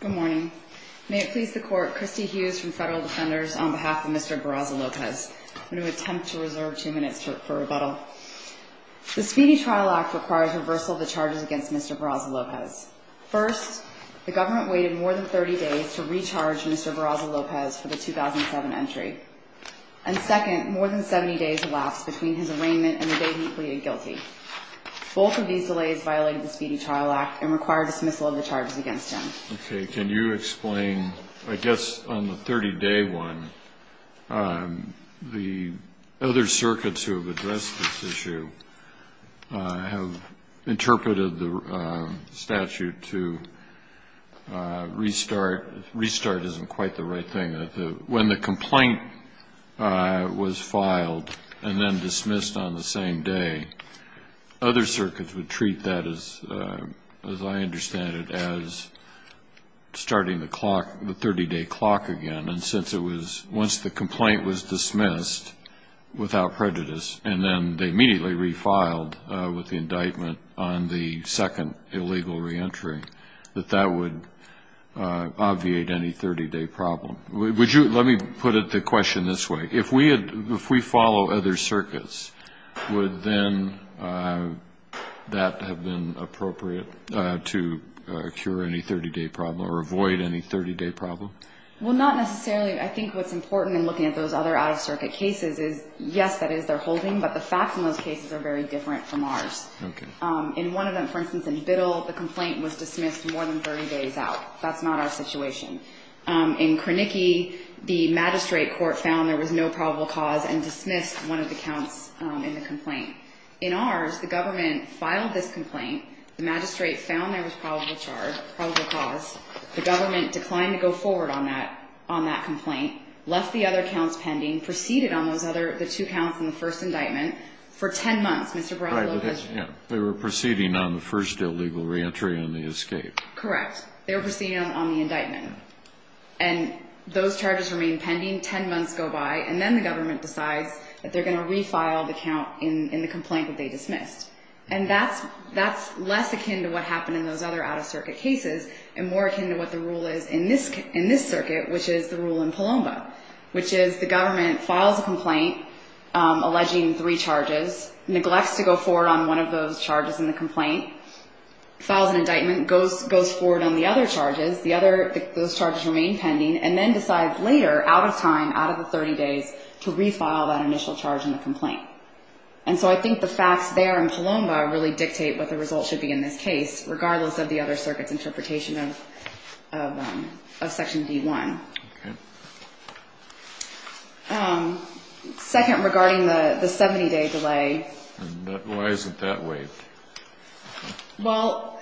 Good morning. May it please the Court, Kristi Hughes from Federal Defenders on behalf of Mr. Barraza-Lopez. I'm going to attempt to reserve two minutes for rebuttal. The Speedy Trial Act requires reversal of the charges against Mr. Barraza-Lopez. First, the government waited more than 30 days to recharge Mr. Barraza-Lopez for the 2007 entry. And second, more than 70 days elapsed between his arraignment and the day he pleaded guilty. Both of these delays violated the Speedy Trial Act and require dismissal of the charges against him. Okay. Can you explain, I guess on the 30-day one, the other circuits who have addressed this issue have interpreted the statute to restart. Restart isn't quite the right thing. When the complaint was filed and then dismissed on the same day, other circuits would treat that as, as I understand it, as starting the clock, the 30-day clock again. And since it was, once the complaint was dismissed without prejudice and then they immediately refiled with the indictment on the second illegal reentry, that that would obviate any 30-day problem. Would you, let me put it, the question this way. If we had, if we follow other circuits, would then that have been appropriate to cure any 30-day problem or avoid any 30-day problem? Well, not necessarily. I think what's important in looking at those other out-of-circuit cases is, yes, that is, they're holding, but the facts in those cases are very different from ours. Okay. In one of them, for instance, in Biddle, the complaint was dismissed more than 30 days out. That's not our situation. In Krenicki, the magistrate court found there was no probable cause and dismissed one of the counts in the complaint. In ours, the government filed this complaint. The magistrate found there was probable charge, probable cause. The government declined to go forward on that, on that complaint, left the other counts pending, proceeded on those other, the two counts in the first indictment for 10 months. Right. They were proceeding on the first illegal reentry and the escape. Correct. They were proceeding on the indictment. And those charges remain pending. Ten months go by, and then the government decides that they're going to refile the count in the complaint that they dismissed. And that's less akin to what happened in those other out-of-circuit cases and more akin to what the rule is in this circuit, which is the rule in Palomba, which is the government files a complaint alleging three charges, neglects to go forward on one of those charges in the complaint, files an indictment, goes forward on the other charges, the other, those charges remain pending, and then decides later, out of time, out of the 30 days, to refile that initial charge in the complaint. And so I think the facts there in Palomba really dictate what the results should be in this case, regardless of the other circuit's interpretation of Section D1. Okay. Second, regarding the 70-day delay. Why is it that way? Well,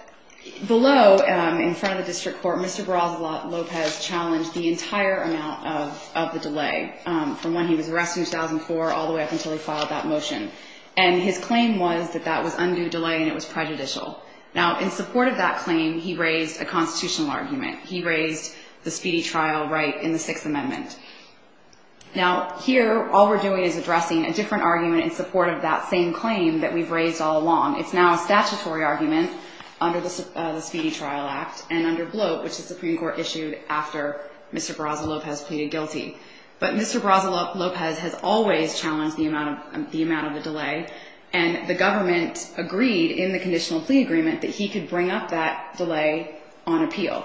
below, in front of the district court, Mr. Barrales-Lopez challenged the entire amount of the delay, from when he was arrested in 2004 all the way up until he filed that motion. And his claim was that that was undue delay and it was prejudicial. Now, in support of that claim, he raised a constitutional argument. He raised the speedy trial right in the Sixth Amendment. Now, here, all we're doing is addressing a different argument in support of that same claim that we've raised all along. It's now a statutory argument under the Speedy Trial Act and under Bloat, which the Supreme Court issued after Mr. Barrales-Lopez pleaded guilty. But Mr. Barrales-Lopez has always challenged the amount of the delay, and the government agreed in the conditional plea agreement that he could bring up that delay on appeal.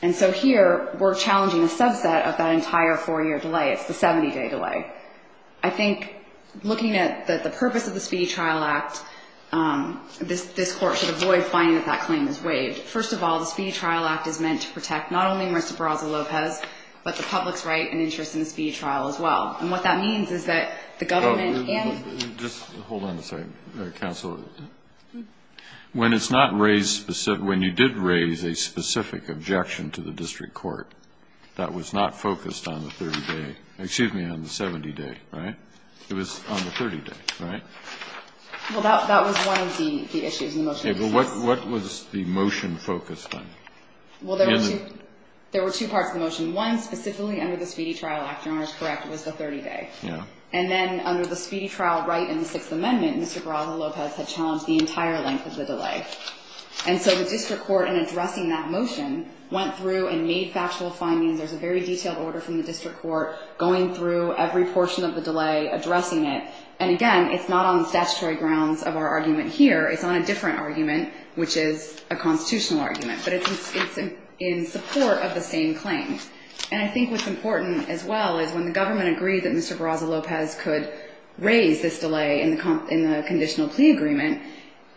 And so here, we're challenging a subset of that entire four-year delay. It's the 70-day delay. I think, looking at the purpose of the Speedy Trial Act, this court should avoid finding that that claim is waived. First of all, the Speedy Trial Act is meant to protect not only Mr. Barrales-Lopez, but the public's right and interest in the speedy trial as well. And what that means is that the government and the district court should be able to do that. And so, Mr. Barrales-Lopez, you're right. I think the motion that was put in was a motion to make objection to the district court. That was not focused on the 30-day – excuse me, on the 70-day, right? It was on the 30-day, right? Well, that was one of the issues in the motion. Okay. But what was the motion focused on? Well, there were two parts of the motion. One specifically under the Speedy Trial Act, Your Honor, is correct, was the 30-day. Yeah. And then under the Speedy Trial right in the Sixth Amendment, Mr. Barrales-Lopez had challenged the entire length of the delay. And so the district court, in addressing that motion, went through and made factual findings. There's a very detailed order from the district court going through every portion of the delay, addressing it. And again, it's not on the statutory grounds of our argument here. It's on a different argument, which is a constitutional argument. But it's in support of the same claim. And I think what's important as well is when the government agreed that Mr. Barrales-Lopez could raise this delay in the conditional plea agreement,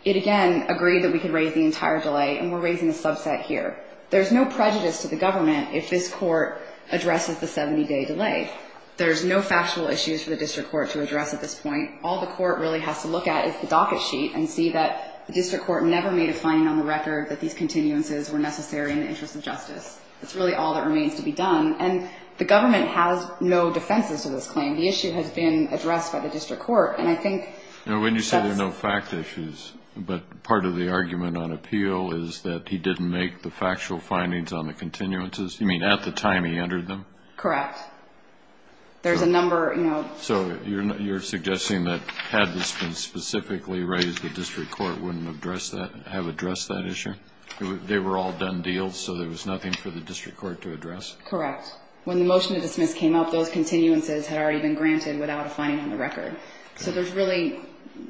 it, again, agreed that we could raise the entire delay. And we're raising a subset here. There's no prejudice to the government if this court addresses the 70-day delay. There's no factual issues for the district court to address at this point. All the court really has to look at is the docket sheet and see that the district court never made a finding on the record that these continuances were necessary in the interest of justice. That's really all that remains to be done. And the government has no defenses to this claim. The issue has been addressed by the district court. And I think that's... Now, when you say there are no fact issues, but part of the argument on appeal is that he didn't make the factual findings on the continuances, you mean at the time he entered them? Correct. There's a number, you know... So you're suggesting that had this been specifically raised, the district court wouldn't have addressed that issue? They were all done deals, so there was nothing for the district court to address? Correct. When the motion to dismiss came up, those continuances had already been granted without a finding on the record. So there's really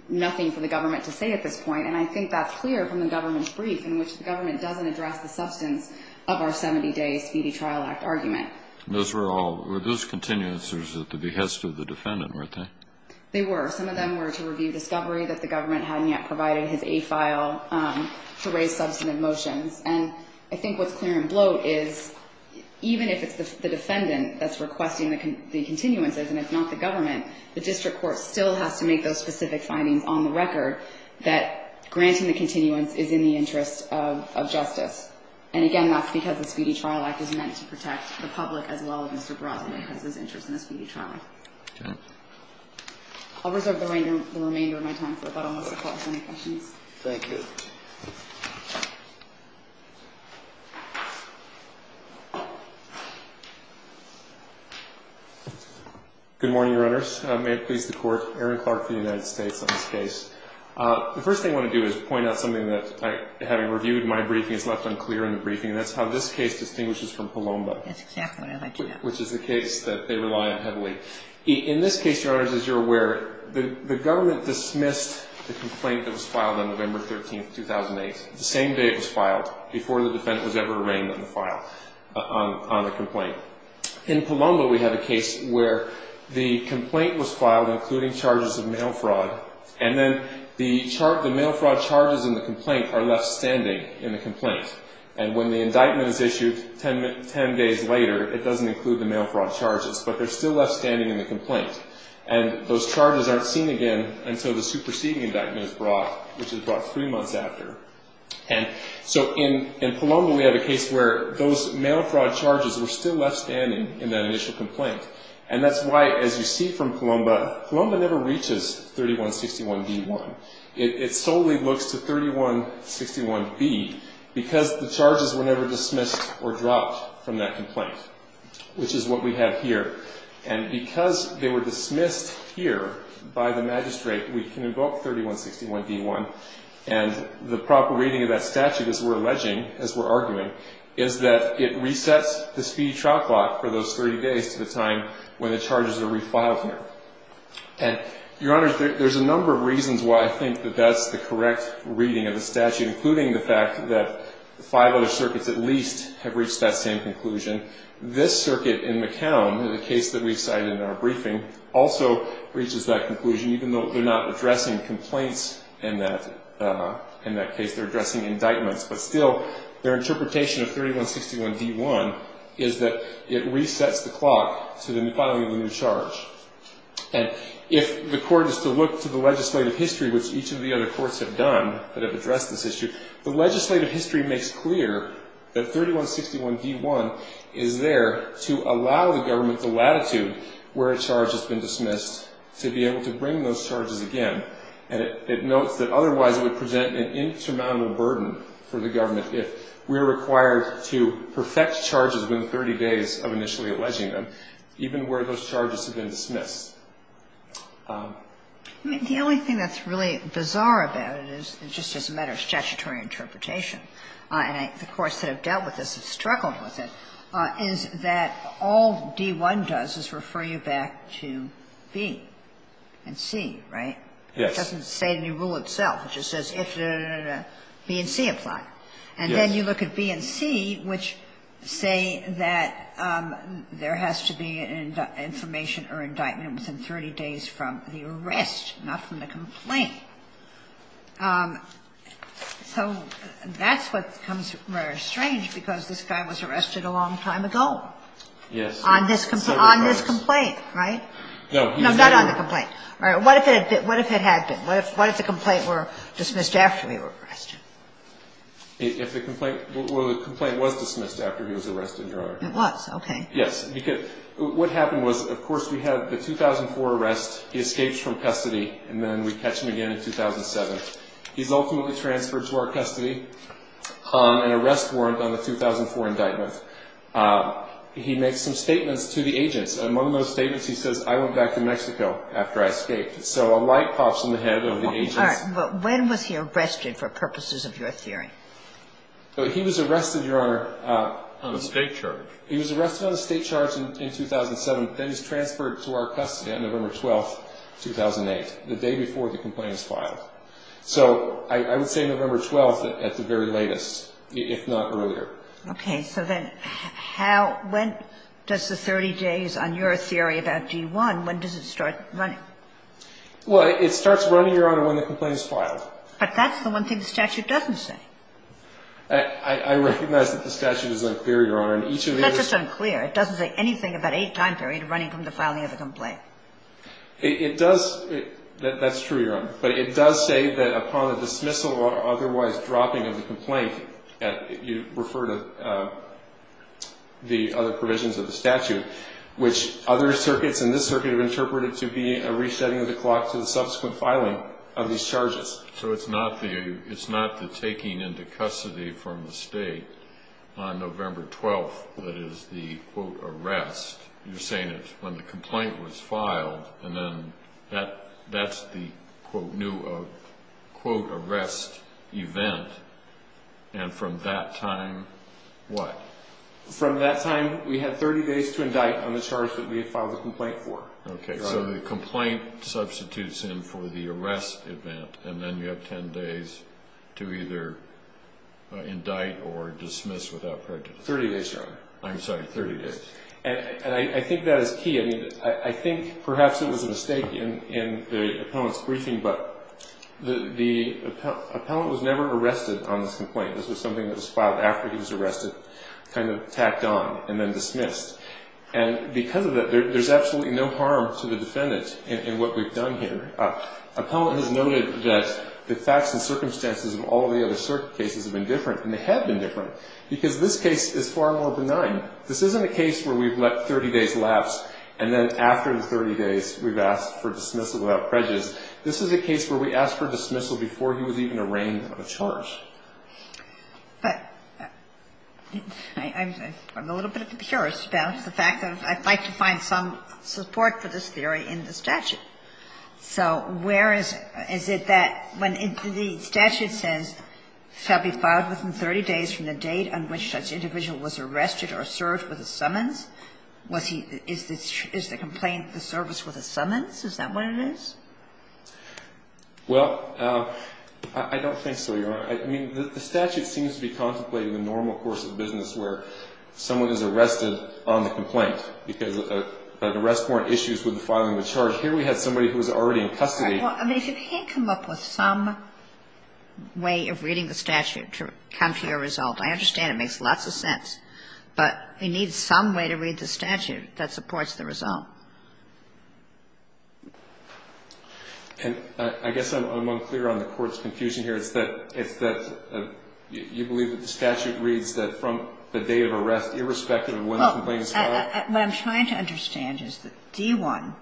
nothing for the government to say at this point. And I think that's clear from the government's brief in which the government doesn't address the substance of our 70-day Speedy Trial Act argument. Those continuances were at the behest of the defendant, weren't they? They were. Some of them were to review discovery that the government hadn't yet provided his A file to raise substantive motions. And I think what's clear and bloat is even if it's the defendant that's requesting the continuances and it's not the government, the district court still has to make those specific findings on the record that granting the continuance is in the interest of justice. And, again, that's because the Speedy Trial Act is meant to protect the public as well as Mr. Barazza because his interest in the Speedy Trial Act. Okay. I'll reserve the remainder of my time for about almost a quarter. Any questions? Thank you. Good morning, Your Honors. May it please the Court. Aaron Clark for the United States on this case. The first thing I want to do is point out something that, having reviewed my briefing, is left unclear in the briefing, and that's how this case distinguishes from Palomba. That's exactly what I'd like to know. Which is the case that they rely on heavily. In this case, Your Honors, as you're aware, the government dismissed the complaint that was filed on November 13th. The same day it was filed, before the defendant was ever arraigned on the file, on the complaint. In Palomba, we have a case where the complaint was filed, including charges of mail fraud, and then the mail fraud charges in the complaint are left standing in the complaint. And when the indictment is issued 10 days later, it doesn't include the mail fraud charges, but they're still left standing in the complaint. And so in Palomba, we have a case where those mail fraud charges were still left standing in that initial complaint. And that's why, as you see from Palomba, Palomba never reaches 3161B1. It solely looks to 3161B because the charges were never dismissed or dropped from that complaint, which is what we have here. And because they were dismissed here by the magistrate, we can invoke 3161B1 and the proper reading of that statute, as we're alleging, as we're arguing, is that it resets the speedy trial clock for those 30 days to the time when the charges are refiled here. And, Your Honors, there's a number of reasons why I think that that's the correct reading of the statute, including the fact that five other circuits at least have reached that same conclusion. This circuit in McCown, the case that we cited in our briefing, also reaches that conclusion, even though they're not addressing complaints in that case. They're addressing indictments. But still, their interpretation of 3161B1 is that it resets the clock to the filing of a new charge. And if the court is to look to the legislative history, which each of the other courts have done that have addressed this issue, the legislative history makes clear that 3161B1 is there to allow the government the latitude where a charge has been dismissed to be able to bring those charges again. And it notes that otherwise it would present an insurmountable burden for the government if we're required to perfect charges within 30 days of initially alleging them, even where those charges have been dismissed. I mean, the only thing that's really bizarre about it is, just as a matter of statutory interpretation, and the courts that have dealt with this have struggled with it, is that all D-1 does is refer you back to B and C, right? Yes. It doesn't say in the rule itself. It just says if the B and C apply. Yes. And then you look at B and C, which say that there has to be an information or indictment within 30 days from the arrest, not from the complaint. So that's what becomes very strange, because this guy was arrested a long time ago. Yes. On this complaint, right? No, he was never. No, not on the complaint. All right. What if it had been? What if the complaint were dismissed after he was arrested? Well, the complaint was dismissed after he was arrested, Your Honor. It was? Okay. Yes. Because what happened was, of course, we have the 2004 arrest, he escapes from custody, and then we catch him again in 2007. He's ultimately transferred to our custody on an arrest warrant on the 2004 indictment. He makes some statements to the agents, and one of those statements, he says, I went back to Mexico after I escaped. So a light pops in the head of the agents. All right. But when was he arrested, for purposes of your theory? He was arrested, Your Honor. On a state charge. He was arrested on a state charge in 2007. And then he was transferred to our custody on November 12th, 2008, the day before the complaint was filed. So I would say November 12th at the very latest, if not earlier. Okay. So then how ñ when does the 30 days on your theory about D1, when does it start running? Well, it starts running, Your Honor, when the complaint is filed. But that's the one thing the statute doesn't say. I recognize that the statute is unclear, Your Honor. And each of these ñ That's just unclear. It doesn't say anything about a time period running from the filing of the complaint. It does ñ that's true, Your Honor. But it does say that upon the dismissal or otherwise dropping of the complaint, you refer to the other provisions of the statute, which other circuits in this circuit have interpreted to be a resetting of the clock to the subsequent filing of these charges. So it's not the taking into custody from the state on November 12th that is the ìarrestî. You're saying that when the complaint was filed, and then that's the ìnewî ìarrestî event, and from that time what? From that time, we have 30 days to indict on the charge that we have filed the complaint for. Okay. So the complaint substitutes in for the arrest event, and then you have 10 days to either indict or dismiss without prejudice. 30 days, Your Honor. I'm sorry, 30 days. And I think that is key. I mean, I think perhaps it was a mistake in the appellant's briefing, but the appellant was never arrested on this complaint. This was something that was filed after he was arrested, kind of tacked on and then dismissed. And because of that, there's absolutely no harm to the defendant in what we've done here. Appellant has noted that the facts and circumstances of all the other circuit cases have been different, and they have been different, because this case is far more benign. This isn't a case where we've let 30 days lapse and then after the 30 days we've asked for dismissal without prejudice. This is a case where we asked for dismissal before he was even arraigned on a charge. But I'm a little bit curious about the fact that I'd like to find some support for this theory in the statute. So where is it that when the statute says shall be filed within 30 days from the date on which such individual was arrested or served with a summons, is the complaint the service with a summons? Is that what it is? Well, I don't think so, Your Honor. I mean, the statute seems to be contemplating the normal course of business where someone is arrested on the complaint because of an arrest warrant issues with the filing of the charge. Here we had somebody who was already in custody. Well, I mean, if he can come up with some way of reading the statute to come to a result, I understand it makes lots of sense. But he needs some way to read the statute that supports the result. And I guess I'm unclear on the Court's confusion here. It's that you believe that the statute reads that from the date of arrest, irrespective of when the complaint is filed? What I'm trying to understand is that D-1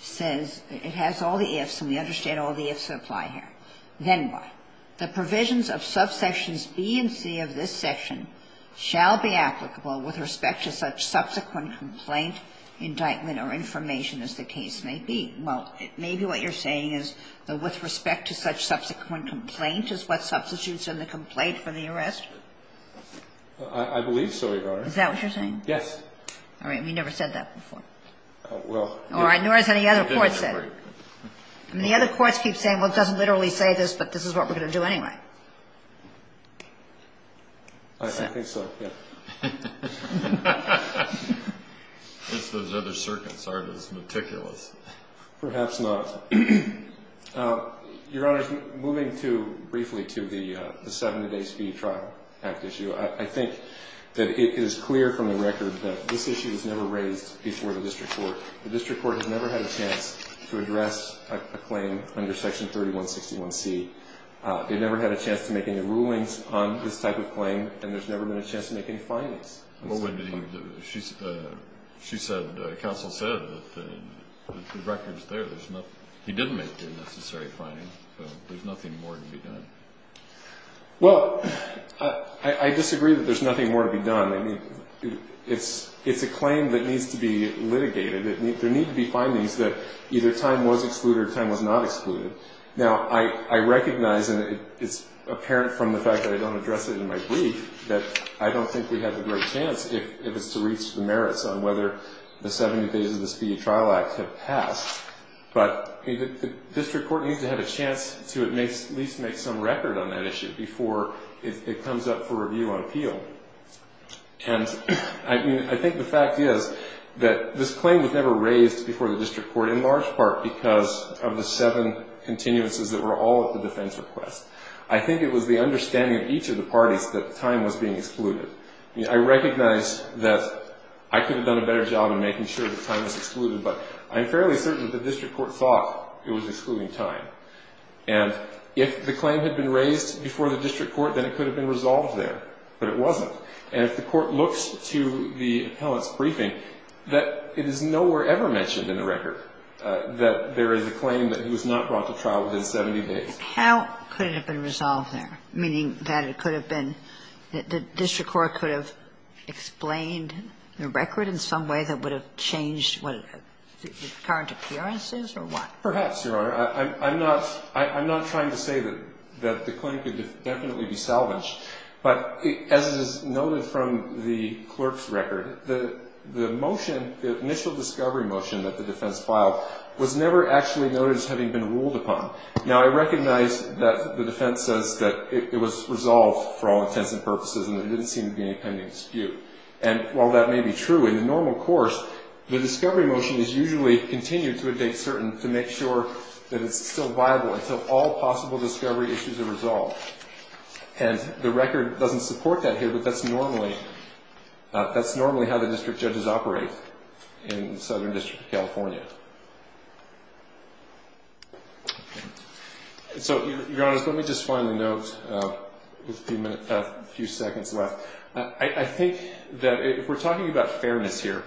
says it has all the ifs and we understand all the ifs that apply here. Then what? The provisions of subsections B and C of this section shall be applicable with respect to such subsequent complaint, indictment, or information as the case may be. Well, maybe what you're saying is that with respect to such subsequent complaint is what substitutes in the complaint for the arrest? I believe so, Your Honor. Is that what you're saying? Yes. All right. We never said that before. Oh, well. Nor has any other court said it. The other courts keep saying, well, it doesn't literally say this, but this is what we're going to do anyway. I think so. Yeah. If those other circuits aren't as meticulous. Perhaps not. Your Honor, moving briefly to the 70 days fee trial act issue, I think that it is clear from the record that this issue was never raised before the district court. The district court has never had a chance to address a claim under section 3161C. They never had a chance to make any rulings on this type of claim, and there's never been a chance to make any findings on this type of claim. She said, counsel said, that the record's there. He didn't make any necessary findings. There's nothing more to be done. Well, I disagree that there's nothing more to be done. I mean, it's a claim that needs to be litigated. There need to be findings that either time was excluded or time was not excluded. Now, I recognize, and it's apparent from the fact that I don't address it in my brief, that I don't think we have a great chance if it's to reach the merits on whether the 70 days of the fee trial act have passed. But the district court needs to have a chance to at least make some record on that issue before it comes up for review on appeal. And I think the fact is that this claim was never raised before the district court in all of the seven continuances that were all at the defense request. I think it was the understanding of each of the parties that time was being excluded. I recognize that I could have done a better job in making sure that time was excluded, but I'm fairly certain that the district court thought it was excluding time. And if the claim had been raised before the district court, then it could have been resolved there. But it wasn't. And if the court looks to the appellate's briefing, that it is nowhere ever mentioned in the record that there is a claim that he was not brought to trial within 70 days. How could it have been resolved there? Meaning that it could have been the district court could have explained the record in some way that would have changed what the current appearance is or what? Perhaps, Your Honor. I'm not trying to say that the claim could definitely be salvaged. But as is noted from the clerk's record, the motion, the initial discovery motion that the defense filed was never actually noted as having been ruled upon. Now, I recognize that the defense says that it was resolved for all intents and purposes and there didn't seem to be any pending dispute. And while that may be true in the normal course, the discovery motion is usually continued to a date certain to make sure that it's still viable until all possible discovery issues are resolved. And the record doesn't support that here, but that's normally how the district judges operate in the Southern District of California. So, Your Honor, let me just finally note with a few seconds left. I think that if we're talking about fairness here,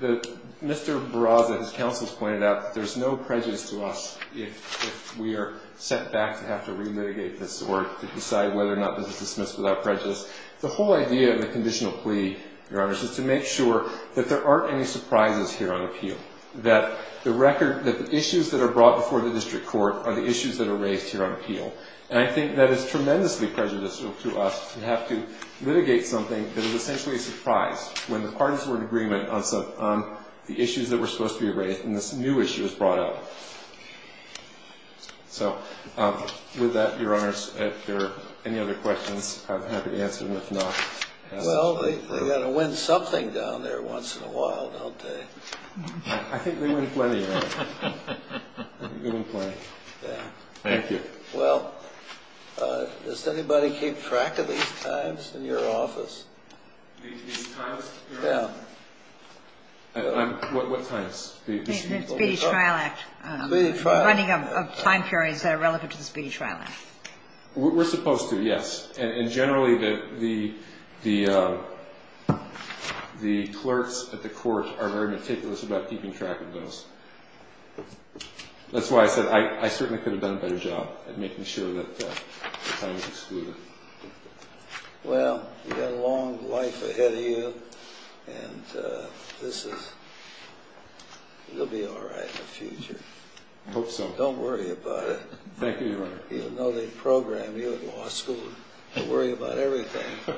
Mr. Barraza, his counsel, has pointed out that there's no prejudice to us if we are set back to have to re-mitigate this or decide whether or not this is dismissed without prejudice. The whole idea of the conditional plea, Your Honors, is to make sure that there aren't any surprises here on appeal, that the issues that are brought before the district court are the issues that are raised here on appeal. And I think that is tremendously prejudicial to us to have to litigate something that is essentially a surprise when the parties were in agreement on the issues that were supposed to be raised and this new issue is brought up. So, with that, Your Honors, if there are any other questions, I'm happy to answer them if not. Well, they've got to win something down there once in a while, don't they? I think they win plenty, Your Honor. They win plenty. Yeah. Thank you. Well, does anybody keep track of these times in your office? These times, Your Honor? Yeah. What times? The Speedy Trial Act. The Speedy Trial Act. The running of time periods that are relevant to the Speedy Trial Act. We're supposed to, yes. And generally, the clerks at the court are very meticulous about keeping track of those. That's why I said I certainly could have done a better job at making sure that the time was excluded. Well, you've got a long life ahead of you, and you'll be all right in the future. I hope so. Don't worry about it. Thank you, Your Honor. You'll know they programmed you at law school to worry about everything.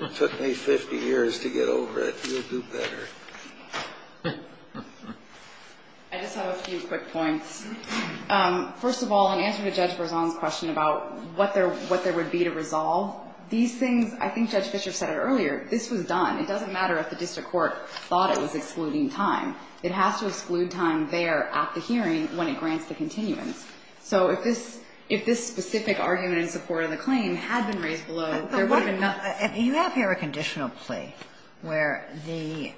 It took me 50 years to get over it. You'll do better. I just have a few quick points. First of all, in answer to Judge Berzon's question about what there would be to resolve, these things, I think Judge Fischer said it earlier, this was done. It doesn't matter if the district court thought it was excluding time. It has to exclude time there at the hearing when it grants the continuance. So if this specific argument in support of the claim had been raised below, there would have been nothing. You have here a conditional plea where the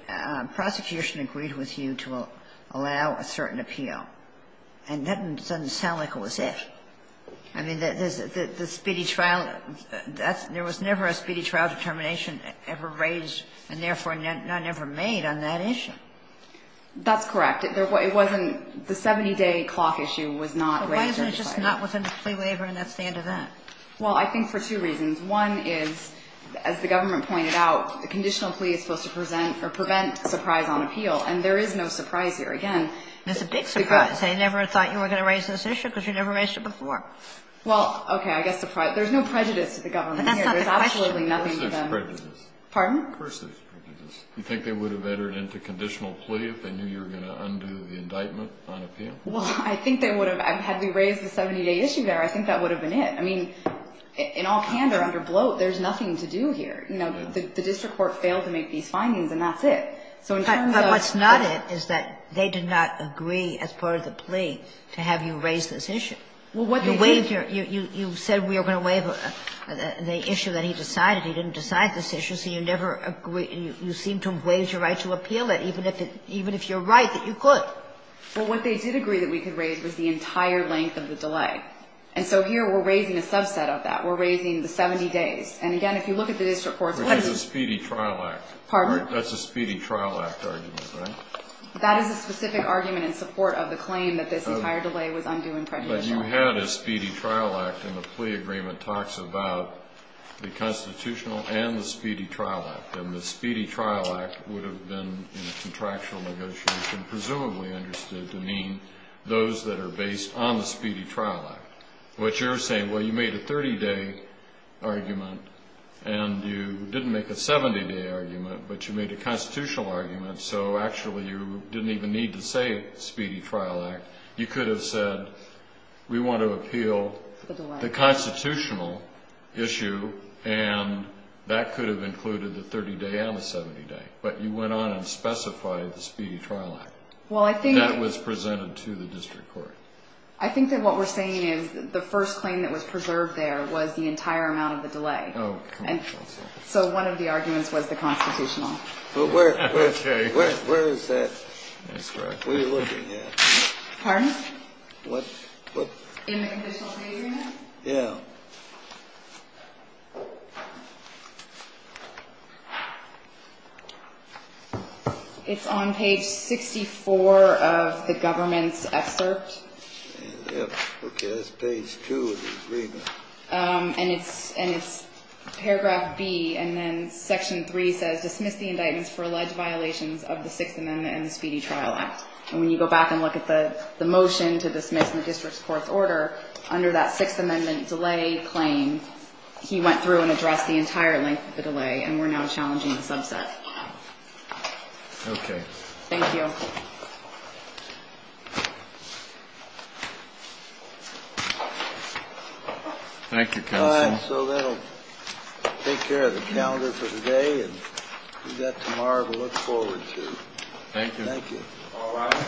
prosecution agreed with you to allow a certain appeal, and that doesn't sound like it was it. I mean, the speedy trial, there was never a speedy trial determination ever raised and, therefore, never made on that issue. That's correct. It wasn't the 70-day clock issue was not raised or decided. Why isn't it just not within the plea waiver and that's the end of that? Well, I think for two reasons. One is, as the government pointed out, a conditional plea is supposed to present or prevent surprise on appeal, and there is no surprise here. Again, it's a big surprise. They never thought you were going to raise this issue because you never raised it before. Well, okay. I guess there's no prejudice to the government here. There's absolutely nothing to them. But that's not the question. Of course there's prejudice. Pardon? Of course there's prejudice. You think they would have entered into conditional plea if they knew you were going to undo the indictment on appeal? Well, I think they would have. Had we raised the 70-day issue there, I think that would have been it. I mean, in all candor, under bloat, there's nothing to do here. You know, the district court failed to make these findings, and that's it. But what's not it is that they did not agree as part of the plea to have you raise this issue. You said we were going to waive the issue that he decided. He didn't decide this issue, so you never agreed. You seem to have waived your right to appeal it, even if you're right that you could. Well, what they did agree that we could raise was the entire length of the delay. And so here we're raising a subset of that. We're raising the 70 days. And, again, if you look at the district courts, what is it? Which is a speedy trial act. Pardon? That's a speedy trial act argument, right? That is a specific argument in support of the claim that this entire delay was undue and prejudicial. But you had a speedy trial act, and the plea agreement talks about the constitutional and the speedy trial act. And the speedy trial act would have been, in a contractual negotiation, presumably understood to mean those that are based on the speedy trial act. But you're saying, well, you made a 30-day argument, and you didn't make a 70-day argument, but you made a constitutional argument, so actually you didn't even need to say speedy trial act. You could have said we want to appeal the constitutional issue, and that could have included the 30-day and the 70-day. But you went on and specified the speedy trial act. That was presented to the district court. I think that what we're saying is the first claim that was preserved there was the entire amount of the delay. And so one of the arguments was the constitutional. Kennedy, where is that? What are you looking at? Pardon? What? In the conditional plea agreement? Yes. It's on page 64 of the government's excerpt. Okay. That's page 2 of the agreement. And it's paragraph B, and then section 3 says dismiss the indictments for alleged violations of the Sixth Amendment and the Speedy Trial Act. And when you go back and look at the motion to dismiss the district court's order, under that Sixth Amendment delay claim, he went through and addressed the entire length of the delay, and we're now challenging the subset. Okay. Thank you. Thank you, Counsel. All right. So that will take care of the calendar for today, and we've got tomorrow to look forward to. Thank you. Thank you. All right. Thank you. Thank you.